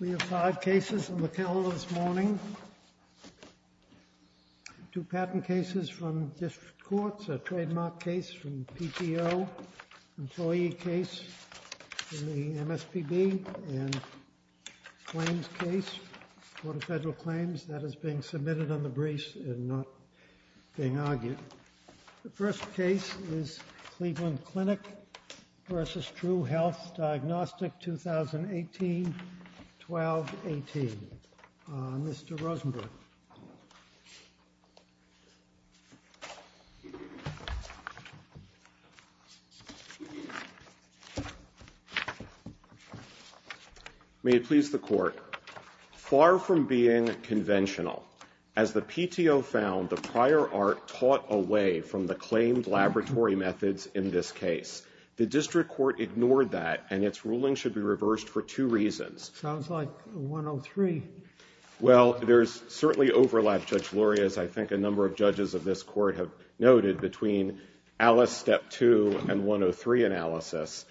We have five cases in the calendar this morning. Two patent cases from district courts, a trademark case from PTO, employee case from the MSPB, and claims case, court of federal claims. That is being submitted on the briefs and not being argued. The first case is Cleveland Clinic v. True Health Diagnostic 2018-12-18. Mr. Rosenberg. May it please the Court. Far from being conventional, as the PTO found the prior art taught away from the claimed laboratory methods in this case. The district court ignored that, and its ruling should be reversed for two reasons. Sounds like 103. Well, there's certainly overlap, Judge Luria, as I think a number of judges of this court have noted between Alice Step 2 and 103 analysis,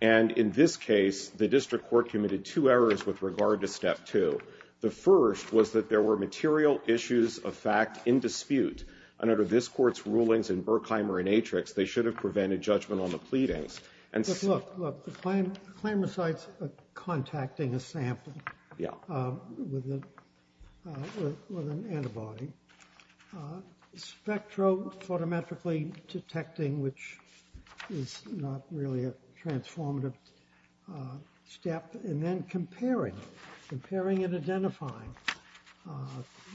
and in this case, the district court committed two errors with regard to Step 2. The first was that there were material issues of fact in dispute, and under this court's rulings in Berkheimer and Atrix, they should have prevented judgment on the pleadings. Look, look, the claimants are contacting a sample with an antibody, spectrophotometrically detecting, which is not really a transformative step, and then comparing. Comparing and identifying.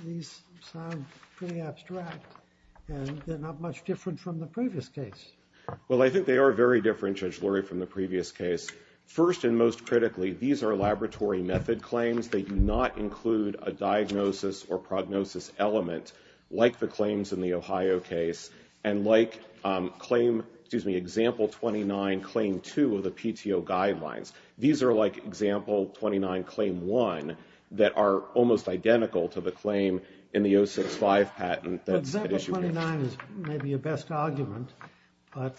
These sound pretty abstract, and they're not much different from the previous case. Well, I think they are very different, Judge Luria, from the previous case. First and most critically, these are laboratory method claims. They do not include a diagnosis or prognosis element like the claims in the Ohio case and like claim, excuse me, example 29, claim 2 of the PTO guidelines. These are like example 29, claim 1 that are almost identical to the claim in the 065 patent that's at issue here. But example 29 is maybe your best argument, but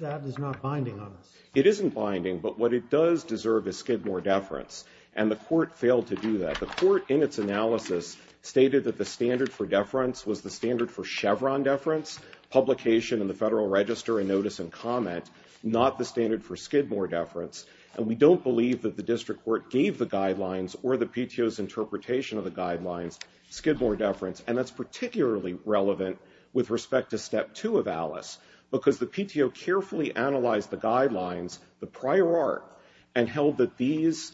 that is not binding on us. It isn't binding, but what it does deserve is Skidmore deference, and the court failed to do that. The court, in its analysis, stated that the standard for deference was the standard for Chevron deference, publication in the Federal Register and notice and comment, not the standard for Skidmore deference. And we don't believe that the district court gave the guidelines or the PTO's interpretation of the guidelines Skidmore deference, and that's particularly relevant with respect to step 2 of Alice, because the PTO carefully analyzed the guidelines, the prior art, and held that these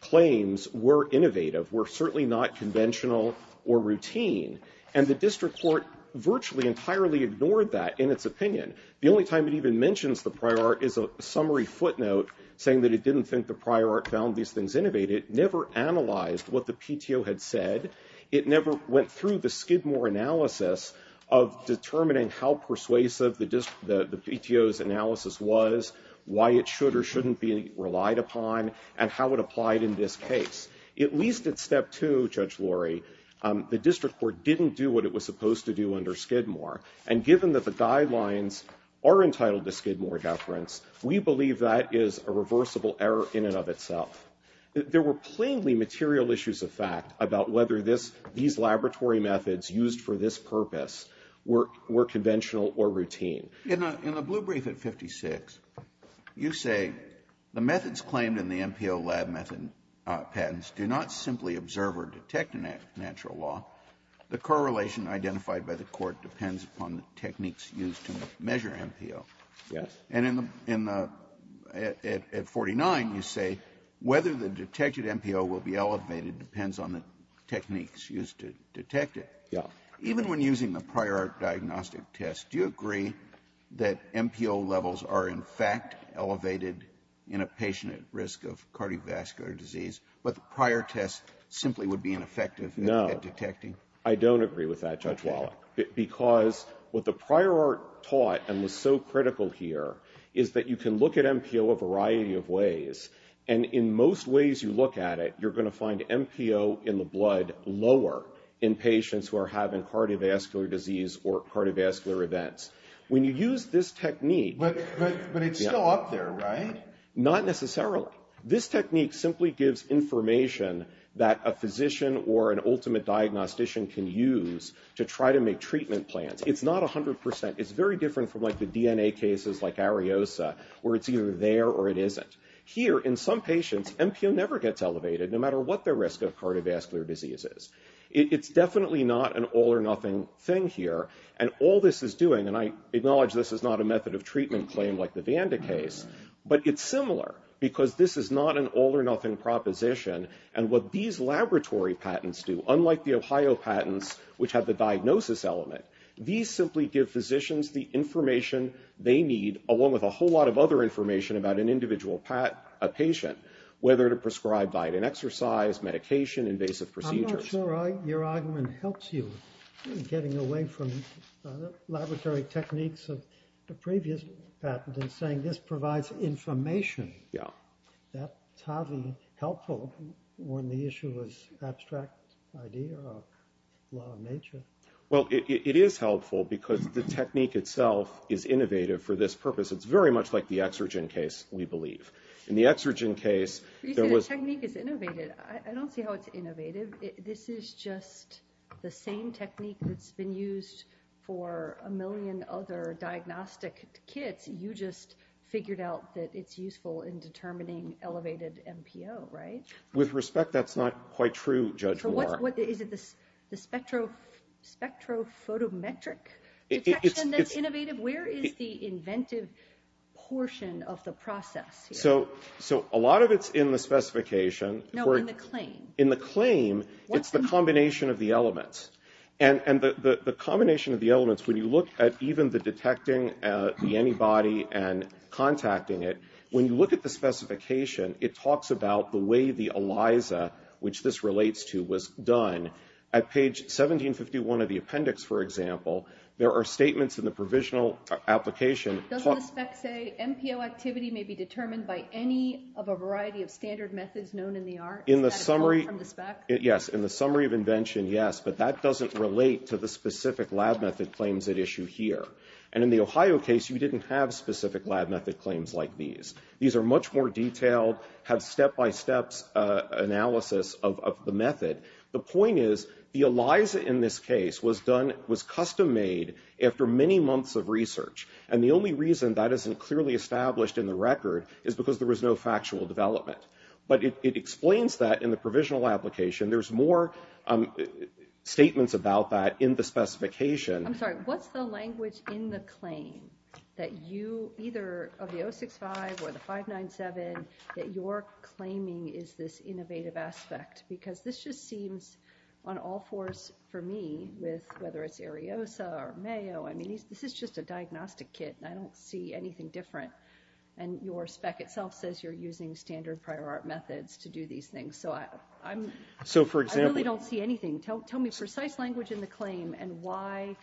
claims were innovative, were certainly not conventional or routine. And the district court virtually entirely ignored that in its opinion. The only time it even mentions the prior art is a summary footnote saying that it didn't think the prior art found these things innovative, never analyzed what the PTO had said. It never went through the Skidmore analysis of determining how persuasive the PTO's analysis was, why it should or shouldn't be relied upon, and how it applied in this case. At least at step 2, Judge Lori, the district court didn't do what it was supposed to do under Skidmore, and given that the guidelines are entitled to Skidmore deference, we believe that is a reversible error in and of itself. There were plainly material issues of fact about whether these laboratory methods used for this purpose were conventional or routine. Kennedy. In the blue brief at 56, you say the methods claimed in the MPO lab method patents do not simply observe or detect a natural law. The correlation identified by the Court depends upon the techniques used to measure MPO. Yes. And in the at 49, you say whether the detected MPO will be elevated depends on the techniques used to detect it. Yes. Even when using the prior diagnostic test, do you agree that MPO levels are in fact elevated in a patient at risk of cardiovascular disease, but the prior test simply would be ineffective at detecting? No. I don't agree with that, Judge Wallach. Because what the prior art taught and was so critical here is that you can look at MPO a variety of ways, and in most ways you look at it, you're going to find MPO in the blood lower in patients who are having cardiovascular disease or cardiovascular events. When you use this technique... But it's still up there, right? Not necessarily. This technique simply gives information that a physician or an ultimate diagnostician can use to try to make treatment plans. It's not 100%. It's very different from, like, the DNA cases like Ariosa, where it's either there or it isn't. Here, in some patients, MPO never gets elevated, no matter what their risk of cardiovascular disease is. It's definitely not an all-or-nothing thing here. And all this is doing, and I acknowledge this is not a method of treatment claim like the Vanda case, but it's similar, because this is not an all-or-nothing proposition. And what these laboratory patents do, unlike the Ohio patents, which have the diagnosis element, these simply give physicians the information they need, along with a whole lot of other information about an individual patient, whether to prescribe diet and exercise, medication, invasive procedures. So your argument helps you in getting away from the laboratory techniques of the previous patent and saying this provides information. Yeah. That's hardly helpful when the issue is abstract idea or law of nature. Well, it is helpful, because the technique itself is innovative for this purpose. It's very much like the exergen case, we believe. In the exergen case, there was... This is just the same technique that's been used for a million other diagnostic kits. You just figured out that it's useful in determining elevated MPO, right? With respect, that's not quite true, Judge Moore. Is it the spectrophotometric detection that's innovative? Where is the inventive portion of the process here? So a lot of it's in the specification. No, in the claim. It's the combination of the elements. And the combination of the elements, when you look at even the detecting the antibody and contacting it, when you look at the specification, it talks about the way the ELISA, which this relates to, was done. At page 1751 of the appendix, for example, there are statements in the provisional application... Doesn't the spec say MPO activity may be determined by any of a variety of standard methods known in the arts? Is that a call from the spec? Yes, in the summary of invention, yes. But that doesn't relate to the specific lab method claims at issue here. And in the Ohio case, you didn't have specific lab method claims like these. These are much more detailed, have step-by-steps analysis of the method. The point is, the ELISA in this case was custom-made after many months of research. And the only reason that isn't clearly established in the record is because there was no factual development. But it explains that in the provisional application. There's more statements about that in the specification. I'm sorry, what's the language in the claim that you, either of the 065 or the 597, that you're claiming is this innovative aspect? Because this just seems, on all fours for me, with whether it's Ariosa or Mayo, I mean, this is just a diagnostic kit, and I don't see anything different. And your spec itself says you're using standard prior art methods to do these things. So I really don't see anything. Tell me precise language in the claim and why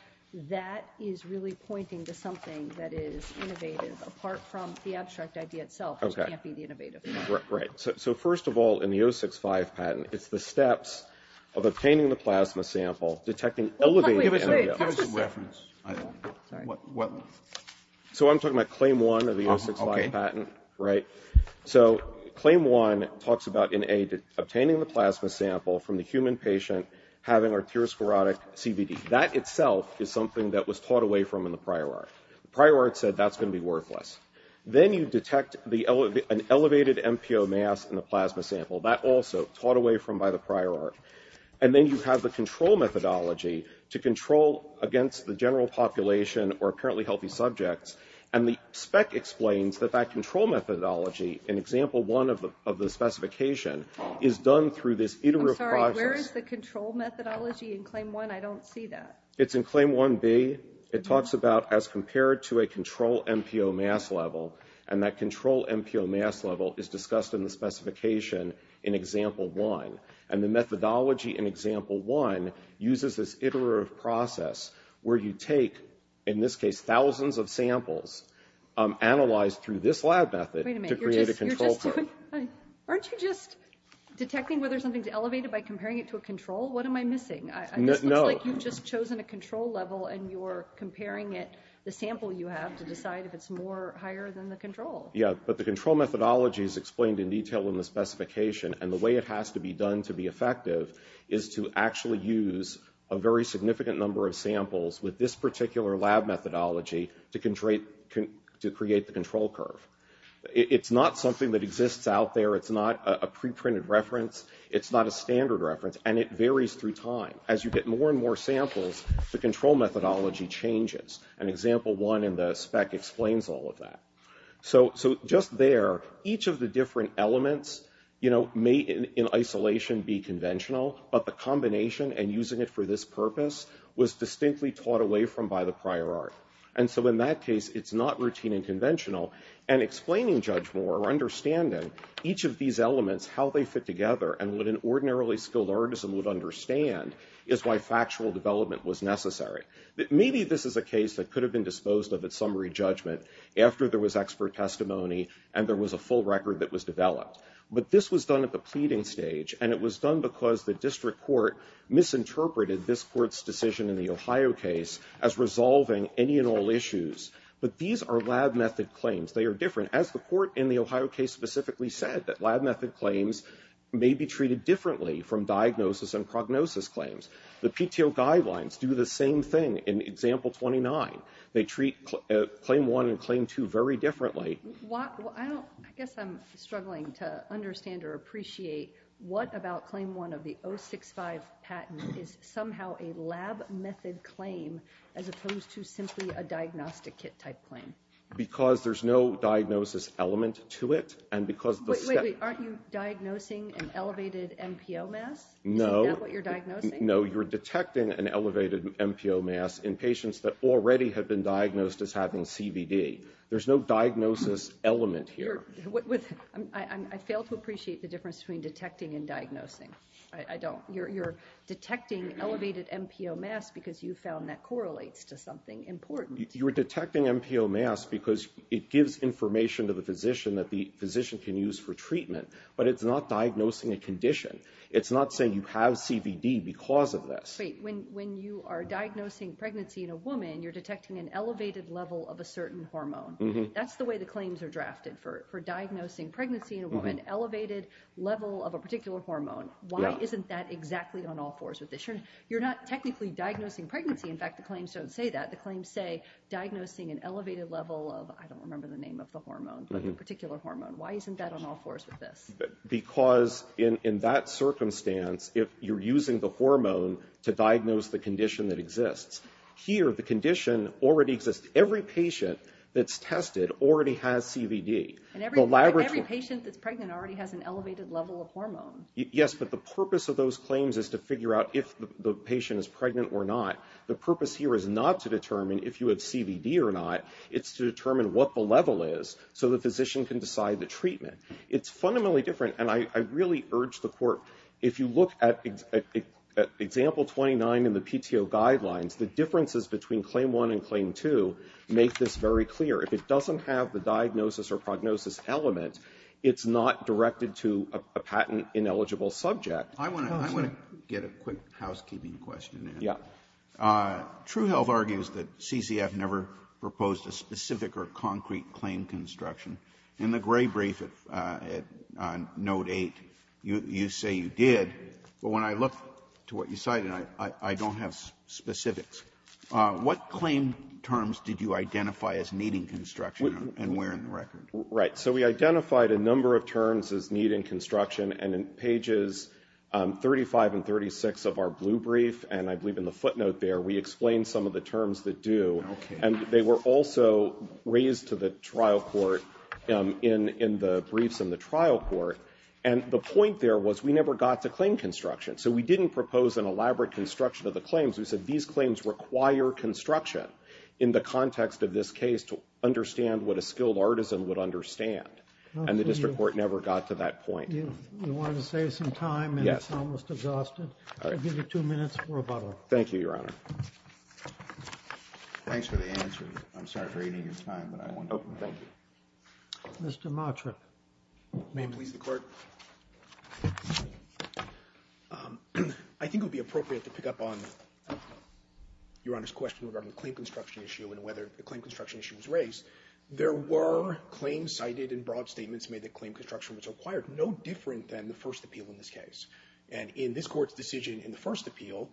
that is really pointing to something that is innovative, apart from the abstract idea itself, which can't be the innovative thing. Right. So first of all, in the 065 patent, it's the steps of obtaining the plasma sample, detecting elevated energy. Give us a reference. So I'm talking about claim one of the 065 patent, right? So claim one talks about obtaining the plasma sample from the human patient, having arteriosclerotic CBD. That itself is something that was taught away from in the prior art. The prior art said that's going to be worthless. Then you detect an elevated MPO mass in the plasma sample. That also, taught away from by the prior art. And then you have the control methodology to control against the general population or apparently healthy subjects. And the spec explains that that control methodology, in example one of the specification, is done through this iterative process. I'm sorry. Where is the control methodology in claim one? I don't see that. It's in claim 1B. It talks about as compared to a control MPO mass level, and that control MPO mass level is discussed in the specification in example one. And the methodology in example one uses this iterative process where you take, in this case, thousands of samples analyzed through this lab method to create a control curve. Aren't you just detecting whether something's elevated by comparing it to a control? What am I missing? No. It looks like you've just chosen a control level, and you're comparing it, the sample you have, to decide if it's more higher than the control. Yeah. But the control methodology is explained in detail in the specification, and the way it has to be done to be effective is to actually use a very significant number of samples with this particular lab methodology to create the control curve. It's not something that exists out there. It's not a preprinted reference. It's not a standard reference, and it varies through time. As you get more and more samples, the control methodology changes, and example one in the spec explains all of that. So just there, each of the different elements may, in isolation, be conventional, but the combination and using it for this purpose was distinctly taught away from by the prior art. And so in that case, it's not routine and conventional. And explaining judge more or understanding each of these elements, how they fit together, and what an ordinarily skilled artisan would understand is why factual development was necessary. Maybe this is a case that could have been disposed of at summary judgment after there was expert testimony and there was a full record that was developed. But this was done at the pleading stage, and it was done because the district court misinterpreted this court's decision in the Ohio case as resolving any and all issues. But these are lab method claims. They are different. As the court in the Ohio case specifically said, that lab method claims may be treated differently from diagnosis and prognosis claims. The PTO guidelines do the same thing in example 29. They treat claim one and claim two very differently. I guess I'm struggling to understand or appreciate what about claim one of the 065 patent is somehow a lab method claim as opposed to simply a diagnostic kit type claim? Because there's no diagnosis element to it. Wait, aren't you diagnosing an elevated NPO mass? No. Is that what you're diagnosing? No, you're detecting an elevated NPO mass in patients that already have been diagnosed as having CVD. There's no diagnosis element here. I fail to appreciate the difference between detecting and diagnosing. You're detecting elevated NPO mass because you found that correlates to something important. You're detecting NPO mass because it gives information to the physician that the physician can use for treatment, but it's not diagnosing a condition. It's not saying you have CVD because of this. Wait, when you are diagnosing pregnancy in a woman, you're detecting an elevated level of a certain hormone. That's the way the claims are drafted for diagnosing pregnancy in a woman, elevated level of a particular hormone. Why isn't that exactly on all fours with this? You're not technically diagnosing pregnancy. In fact, the claims don't say that. The claims say diagnosing an elevated level of, I don't remember the name of the hormone, but a particular hormone. Why isn't that on all fours with this? Because in that circumstance, you're using the hormone to diagnose the condition that exists. Here, the condition already exists. Every patient that's tested already has CVD. Every patient that's pregnant already has an elevated level of hormone. Yes, but the purpose of those claims is to figure out if the patient is pregnant or not. The purpose here is not to determine if you have CVD or not. It's to determine what the level is so the physician can decide the treatment. It's fundamentally different, and I really urge the court, if you look at example 29 in the PTO guidelines, the differences between claim one and claim two make this very clear. If it doesn't have the diagnosis or prognosis element, it's not directed to a patent-ineligible subject. I want to get a quick housekeeping question in. Yeah. TrueHealth argues that CCF never proposed a specific or concrete claim construction. In the gray brief at note eight, you say you did, but when I look to what you cited, I don't have specifics. What claim terms did you identify as needing construction and where in the record? Right. So we identified a number of terms as needing construction, and in pages 35 and 36 of our blue brief, and I believe in the footnote there, we explained some of the terms that do, and they were also raised to the trial court in the briefs in the trial court, and the point there was we never got to claim construction. So we didn't propose an elaborate construction of the claims. We said these claims require construction in the context of this case to understand what a skilled artisan would understand, and the district court never got to that point. You wanted to save some time, and it's almost exhausted. Yes. I'll give you two minutes for rebuttal. Thank you, Your Honor. Thanks for the answer. I'm sorry for aiding your time, but I want to thank you. Mr. Matrip. May it please the Court? I think it would be appropriate to pick up on Your Honor's question regarding the claim construction issue and whether the claim construction issue was raised. There were claims cited and broad statements made that claim construction was required, no different than the first appeal in this case, and in this Court's decision in the first appeal,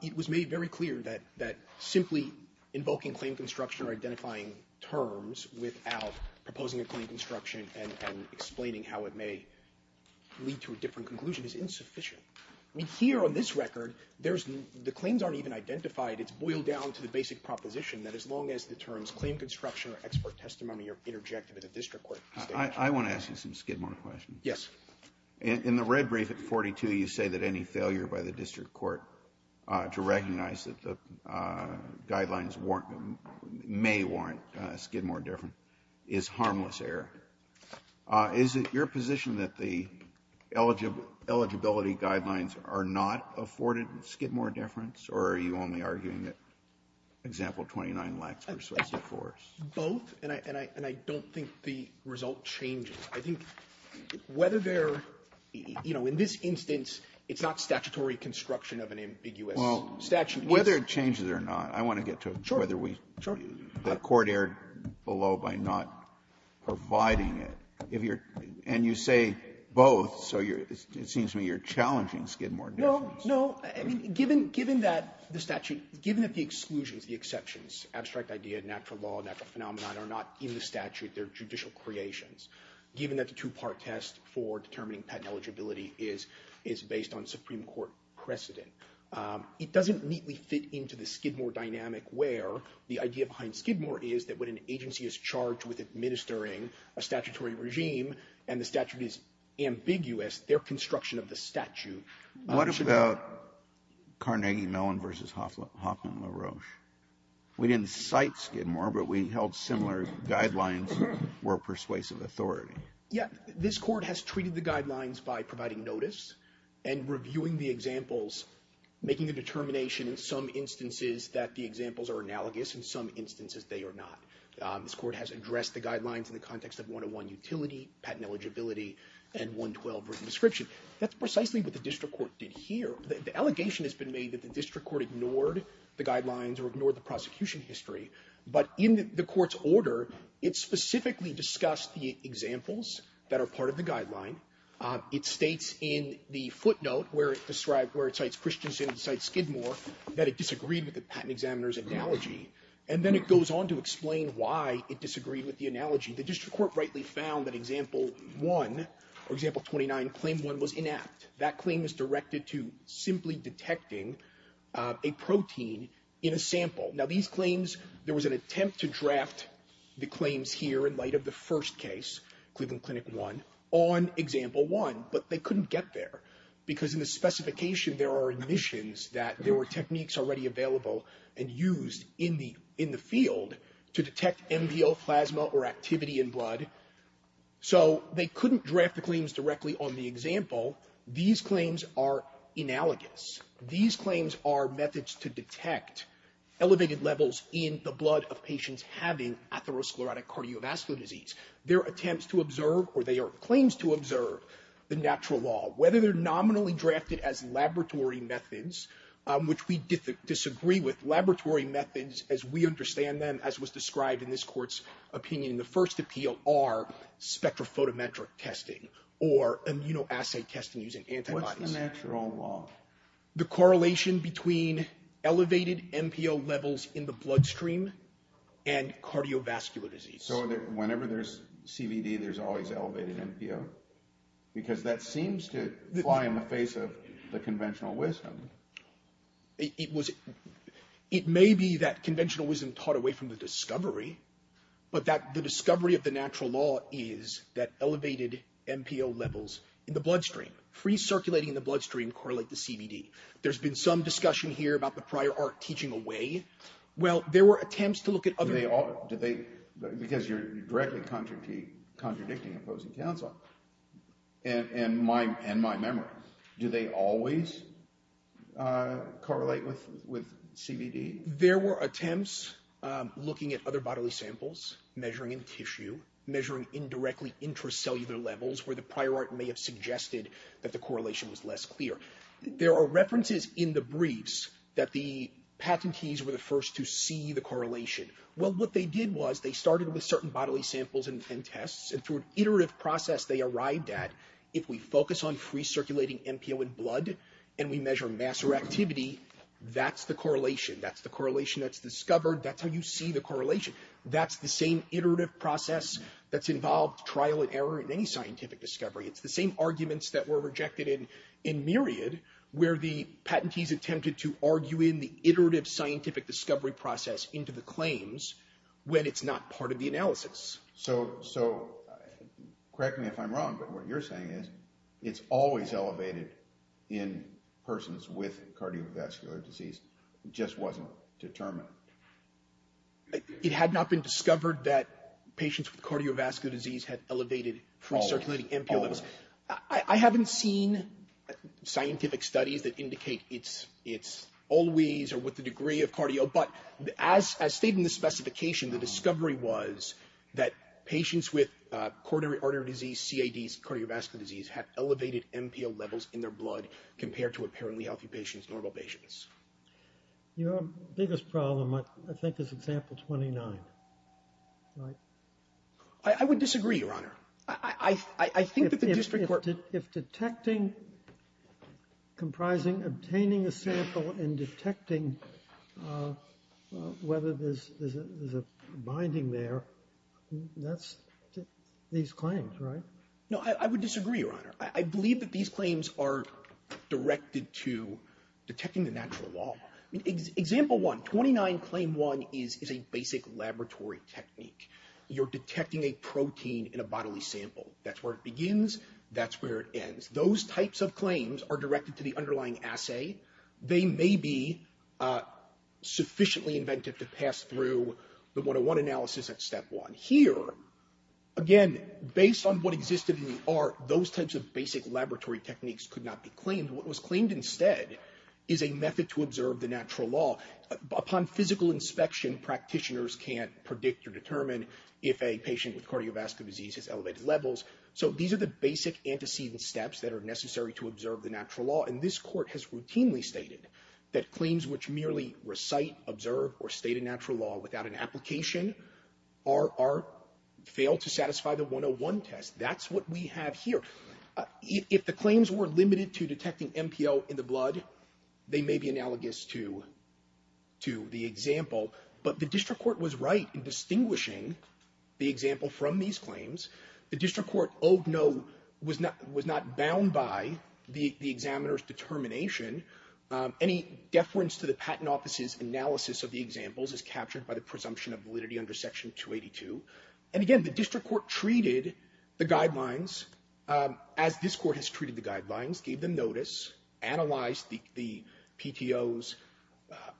it was made very clear that simply invoking claim construction or identifying terms without proposing a claim construction and explaining how it may lead to a different conclusion is insufficient. I mean, here on this record, the claims aren't even identified. It's boiled down to the basic proposition that as long as the terms claim construction or expert testimony are interjected in the district court. I want to ask you some skidmark questions. Yes. In the red brief at 42, you say that any failure by the district court to recognize that the guidelines may warrant a skidmark difference is harmless error. Is it your position that the eligibility guidelines are not afforded skidmark difference, or are you only arguing that example 29 lacks persuasive force? Both, and I don't think the result changes. I think whether they're, you know, in this instance, it's not statutory construction of an ambiguous statute. Well, whether it changes or not, I want to get to whether we do. Sure. The court erred below by not providing it. And you say both, so it seems to me you're challenging skidmark difference. No. I mean, given that the statute, given that the exclusions, the exceptions, abstract idea, natural law, natural phenomenon, are not in the statute. They're judicial creations. Given that the two-part test for determining patent eligibility is based on Supreme Court precedent, it doesn't neatly fit into the Skidmore dynamic where the idea behind Skidmore is that when an agency is charged with administering a statutory regime and the statute is ambiguous, their construction of the statute should What about Carnegie Mellon v. Hoffman LaRoche? We didn't cite Skidmore, but we held similar guidelines were persuasive authority. Yeah. This court has treated the guidelines by providing notice and reviewing the examples, making a determination in some instances that the examples are analogous in some instances they are not. This court has addressed the guidelines in the context of 101 utility, patent eligibility, and 112 written description. That's precisely what the district court did here. The allegation has been made that the district court ignored the guidelines or ignored the prosecution history. But in the court's order, it specifically discussed the examples that are part of the guideline. It states in the footnote where it describes, where it cites Christensen, it cites Skidmore, that it disagreed with the patent examiner's analogy. And then it goes on to explain why it disagreed with the analogy. The district court rightly found that example one, or example 29, claim one was inept. That claim is directed to simply detecting a protein in a sample. Now, these claims, there was an attempt to draft the claims here in light of the first case, Cleveland Clinic one, on example one, but they couldn't get there because in the specification there are admissions that there were techniques already available and used in the field to detect MVO plasma or activity in blood. So they couldn't draft the claims directly on the example. These claims are analogous. These claims are methods to detect elevated levels in the blood of patients having atherosclerotic cardiovascular disease. They're attempts to observe, or they are claims to observe, the natural law. Whether they're nominally drafted as laboratory methods, which we disagree with, laboratory methods as we understand them, as was described in this court's opinion in the first appeal, are spectrophotometric testing or immunoassay testing using antibodies. What's the natural law? The correlation between elevated MPO levels in the bloodstream and cardiovascular disease. So whenever there's CVD, there's always elevated MPO? Because that seems to fly in the face of the conventional wisdom. It may be that conventional wisdom taught away from the discovery, but that the discovery of the natural law is that elevated MPO levels in the bloodstream, free circulating in the bloodstream, correlate to CVD. There's been some discussion here about the prior art teaching away. Well, there were attempts to look at other... Because you're directly contradicting opposing counsel and my memory. Do they always correlate with CVD? There were attempts looking at other bodily samples, measuring in tissue, measuring indirectly intracellular levels where the prior art may have suggested that the correlation was less clear. There are references in the briefs that the patentees were the first to see the correlation. Well, what they did was they started with certain bodily samples and tests, and through an iterative process they arrived at, if we focus on free circulating MPO in blood and we measure mass or activity, that's the correlation, that's the correlation that's discovered, that's how you see the correlation. That's the same iterative process that's involved trial and error in any scientific discovery. It's the same arguments that were rejected in Myriad where the patentees attempted to argue in the iterative scientific discovery process into the claims when it's not part of the analysis. So correct me if I'm wrong, but what you're saying is it's always elevated in persons with cardiovascular disease. It just wasn't determined. It had not been discovered that patients with cardiovascular disease had elevated free circulating MPO levels. Always. I haven't seen scientific studies that indicate it's always or with the degree of cardio, but as stated in the specification, the discovery was that patients with coronary artery disease, CADs, cardiovascular disease, had elevated MPO levels in their blood compared to apparently healthy patients, normal patients. Your biggest problem, I think, is example 29, right? I would disagree, Your Honor. I think that the district court... If detecting, comprising, obtaining a sample and detecting whether there's a binding there, that's these claims, right? No, I would disagree, Your Honor. I believe that these claims are directed to detecting the natural law. Example 1, 29 claim 1 is a basic laboratory technique. You're detecting a protein in a bodily sample. That's where it begins. That's where it ends. Those types of claims are directed to the underlying assay. They may be sufficiently inventive to pass through the 101 analysis at step 1. Here, again, based on what existed in the art, those types of basic laboratory techniques could not be claimed. What was claimed instead is a method to observe the natural law. Upon physical inspection, practitioners can't predict or determine if a patient with cardiovascular disease has elevated levels. So these are the basic antecedent steps that are necessary to observe the natural law, and this court has routinely stated that claims which merely recite, observe, or state a natural law without an application fail to satisfy the 101 test. That's what we have here. If the claims were limited to detecting MPO in the blood, they may be analogous to the example, but the district court was right in distinguishing the example from these claims. The district court, oh, no, was not bound by the examiner's determination. Any deference to the patent office's analysis of the examples is captured by the presumption of validity under Section 282. And again, the district court treated the guidelines as this court has treated the guidelines, gave them notice, analyzed the PTO's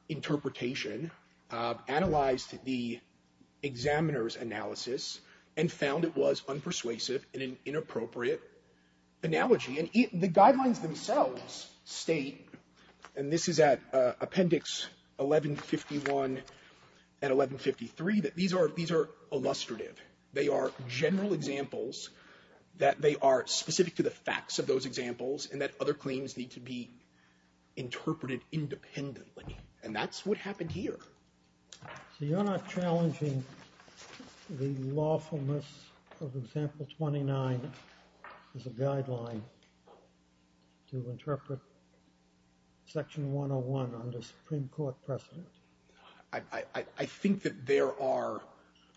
interpretation, analyzed the examiner's analysis, and found it was unpersuasive and an inappropriate analogy. And the guidelines themselves state, and this is at Appendix 1151 and 1153, that these are illustrative. They are general examples, that they are specific to the facts of those examples, and that other claims need to be interpreted independently. And that's what happened here. So you're not challenging the lawfulness of Example 29 as a guideline to interpret Section 101 under Supreme Court precedent? I think that there are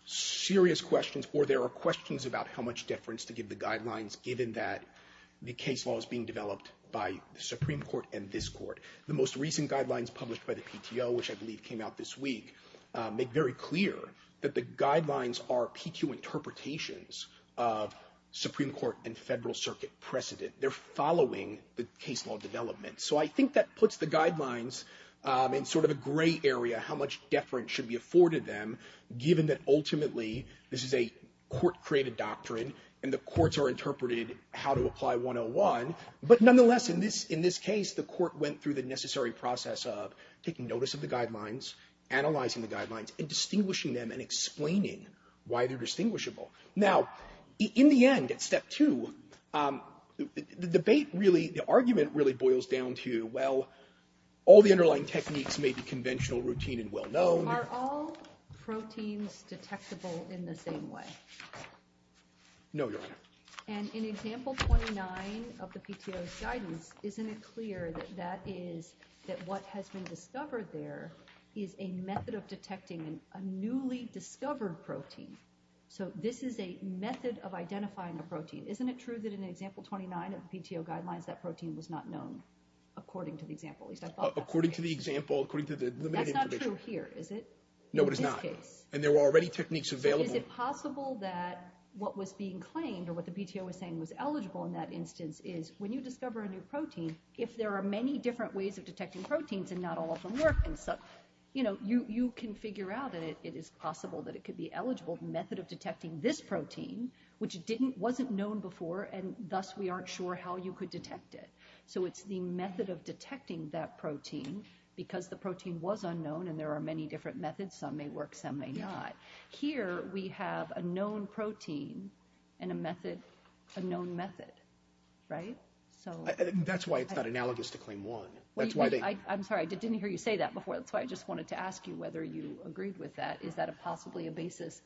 serious questions, or there are questions about how much difference to give the guidelines, given that the case law is being developed by the Supreme Court and this court. The most recent guidelines published by the PTO, which I believe came out this week, make very clear that the guidelines are PQ interpretations of Supreme Court and Federal Circuit precedent. They're following the case law development. So I think that puts the guidelines in sort of a gray area, how much deference should be afforded them, given that ultimately this is a court-created doctrine, and the courts are interpreted how to apply 101. But nonetheless, in this case, the court went through the necessary process of taking notice of the guidelines, analyzing the guidelines, and distinguishing them and explaining why they're distinguishable. Now, in the end, at Step 2, the debate really, the argument really, boils down to, well, all the underlying techniques may be conventional, routine, and well-known. No, Your Honor. And in Example 29 of the PTO's guidance, isn't it clear that that is that what has been discovered there is a method of detecting a newly discovered protein? So this is a method of identifying a protein. Isn't it true that in Example 29 of the PTO guidelines that protein was not known, according to the example? According to the example, according to the limited information. That's not true here, is it? No, it is not. In this case. And there were already techniques available. Is it possible that what was being claimed, or what the PTO was saying was eligible in that instance, is when you discover a new protein, if there are many different ways of detecting proteins and not all of them work, you can figure out that it is possible that it could be eligible, the method of detecting this protein, which wasn't known before, and thus we aren't sure how you could detect it. So it's the method of detecting that protein, because the protein was unknown and there are many different methods, some may work, some may not. Here we have a known protein and a known method, right? That's why it's not analogous to Claim 1. I'm sorry, I didn't hear you say that before. That's why I just wanted to ask you whether you agreed with that. Is that possibly a basis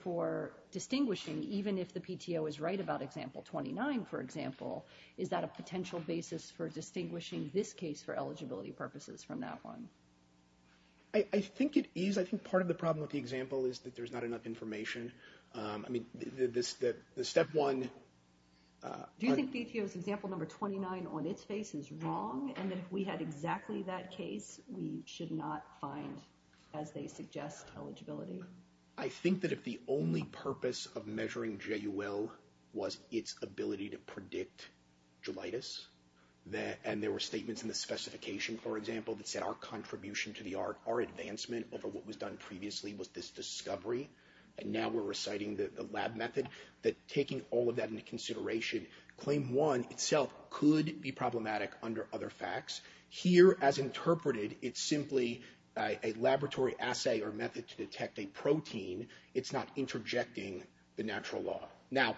for distinguishing, even if the PTO is right about Example 29, for example, is that a potential basis for distinguishing this case for eligibility purposes from that one? I think it is. I think part of the problem with the example is that there's not enough information. I mean, the Step 1... Do you think PTO's Example 29 on its face is wrong and that if we had exactly that case, we should not find, as they suggest, eligibility? I think that if the only purpose of measuring JUL was its ability to predict jelitis, and there were statements in the specification, for example, that said our contribution to the art, our advancement over what was done previously, was this discovery, and now we're reciting the lab method, that taking all of that into consideration, Claim 1 itself could be problematic under other facts. Here, as interpreted, it's simply a laboratory assay or method to detect a protein. It's not interjecting the natural law. Now,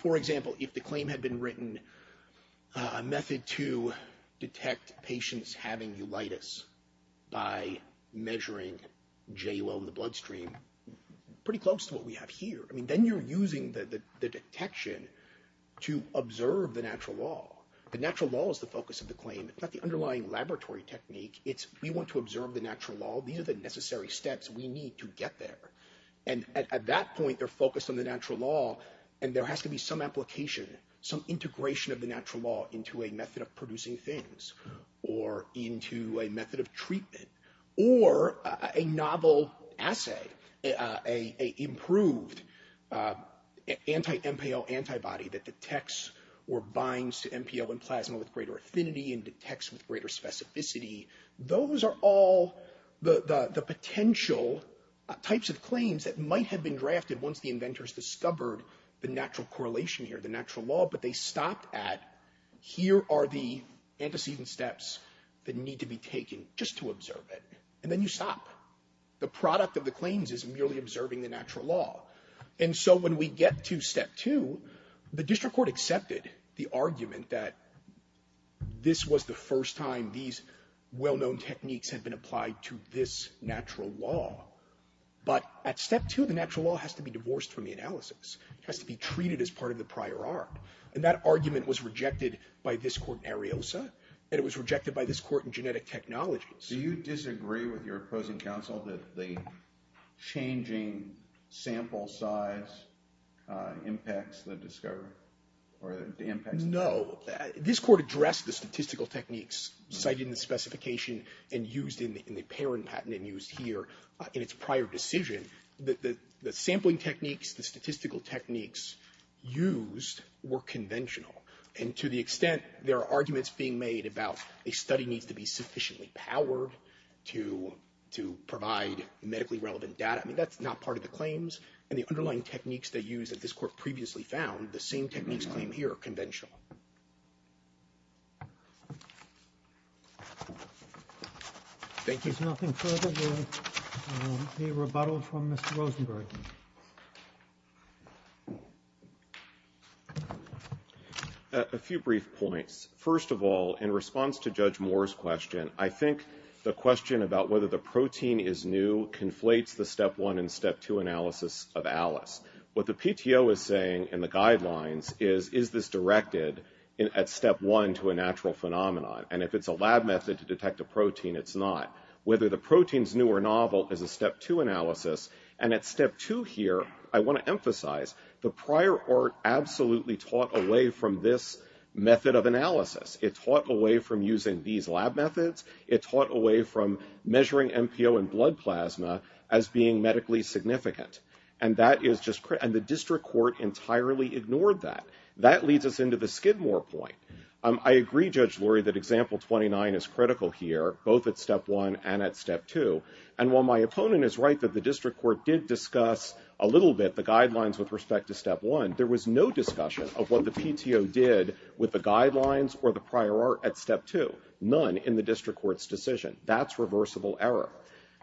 for example, if the claim had been written, a method to detect patients having jelitis by measuring JUL in the bloodstream, pretty close to what we have here. I mean, then you're using the detection to observe the natural law. The natural law is the focus of the claim. It's not the underlying laboratory technique. It's we want to observe the natural law. These are the necessary steps we need to get there. And at that point, they're focused on the natural law, and there has to be some application, some integration of the natural law into a method of producing things, or into a method of treatment, or a novel assay, a improved anti-MPO antibody that detects or binds to MPO and plasma with greater affinity and detects with greater specificity. Those are all the potential types of claims that might have been drafted once the inventors discovered the natural correlation here, the natural law, but they stopped at here are the antecedent steps that need to be taken just to observe it. And then you stop. The product of the claims is merely observing the natural law. And so when we get to step two, the district court accepted the argument that this was the first time these well-known techniques had been applied to this natural law. But at step two, the natural law has to be divorced from the analysis. It has to be treated as part of the prior art. And that argument was rejected by this court in Ariosa, and it was rejected by this court in Genetic Technologies. Do you disagree with your opposing counsel that the changing sample size impacts the discovery? No. This court addressed the statistical techniques cited in the specification and used in the Perron patent and used here in its prior decision. The sampling techniques, the statistical techniques used were conventional. And to the extent there are arguments being made about a study needs to be sufficiently powered to provide medically relevant data, I mean, that's not part of the claims. And the underlying techniques they used that this court previously found, the same techniques claimed here are conventional. Thank you. If there is nothing further, we'll be rebuttaled from Mr. Rosenberg. A few brief points. First of all, in response to Judge Moore's question, I think the question about whether the protein is new conflates the step one and step two analysis of Alice. What the PTO is saying in the guidelines is, is this directed at step one to a natural phenomenon? And if it's a lab method to detect a protein, it's not. Whether the protein's new or novel is a step two analysis. And at step two here, I want to emphasize, the prior art absolutely taught away from this method of analysis. It taught away from using these lab methods. It taught away from measuring MPO in blood plasma as being medically significant. And the district court entirely ignored that. That leads us into the Skidmore point. I agree, Judge Lurie, that example 29 is critical here, both at step one and at step two. And while my opponent is right that the district court did discuss a little bit the guidelines with respect to step one, there was no discussion of what the PTO did with the guidelines or the prior art at step two. None in the district court's decision. That's reversible error.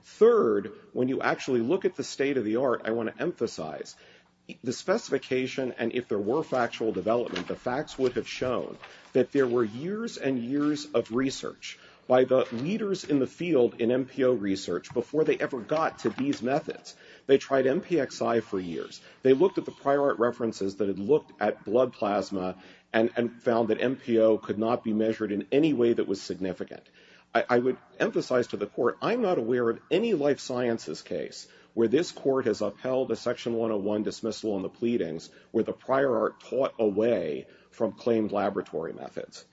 Third, when you actually look at the state of the art, I want to emphasize, the specification and if there were factual development, the facts would have shown that there were years and years of research by the leaders in the field in MPO research before they ever got to these methods. They tried MPXI for years. They looked at the prior art references that had looked at blood plasma and found that MPO could not be measured in any way that was significant. I would emphasize to the court, I'm not aware of any life sciences case where this court has upheld a section 101 dismissal on the pleadings where the prior art taught away from claimed laboratory methods.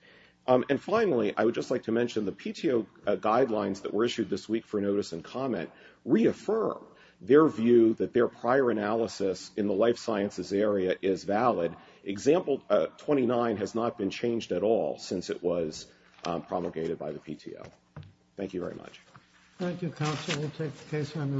And finally, I would just like to mention the PTO guidelines that were issued this week for notice and comment reaffirm their view that their prior analysis in the life sciences area is valid. Example 29 has not been changed at all since it was promulgated by the PTO. Thank you very much. Thank you, counsel. We'll take the case under advisement.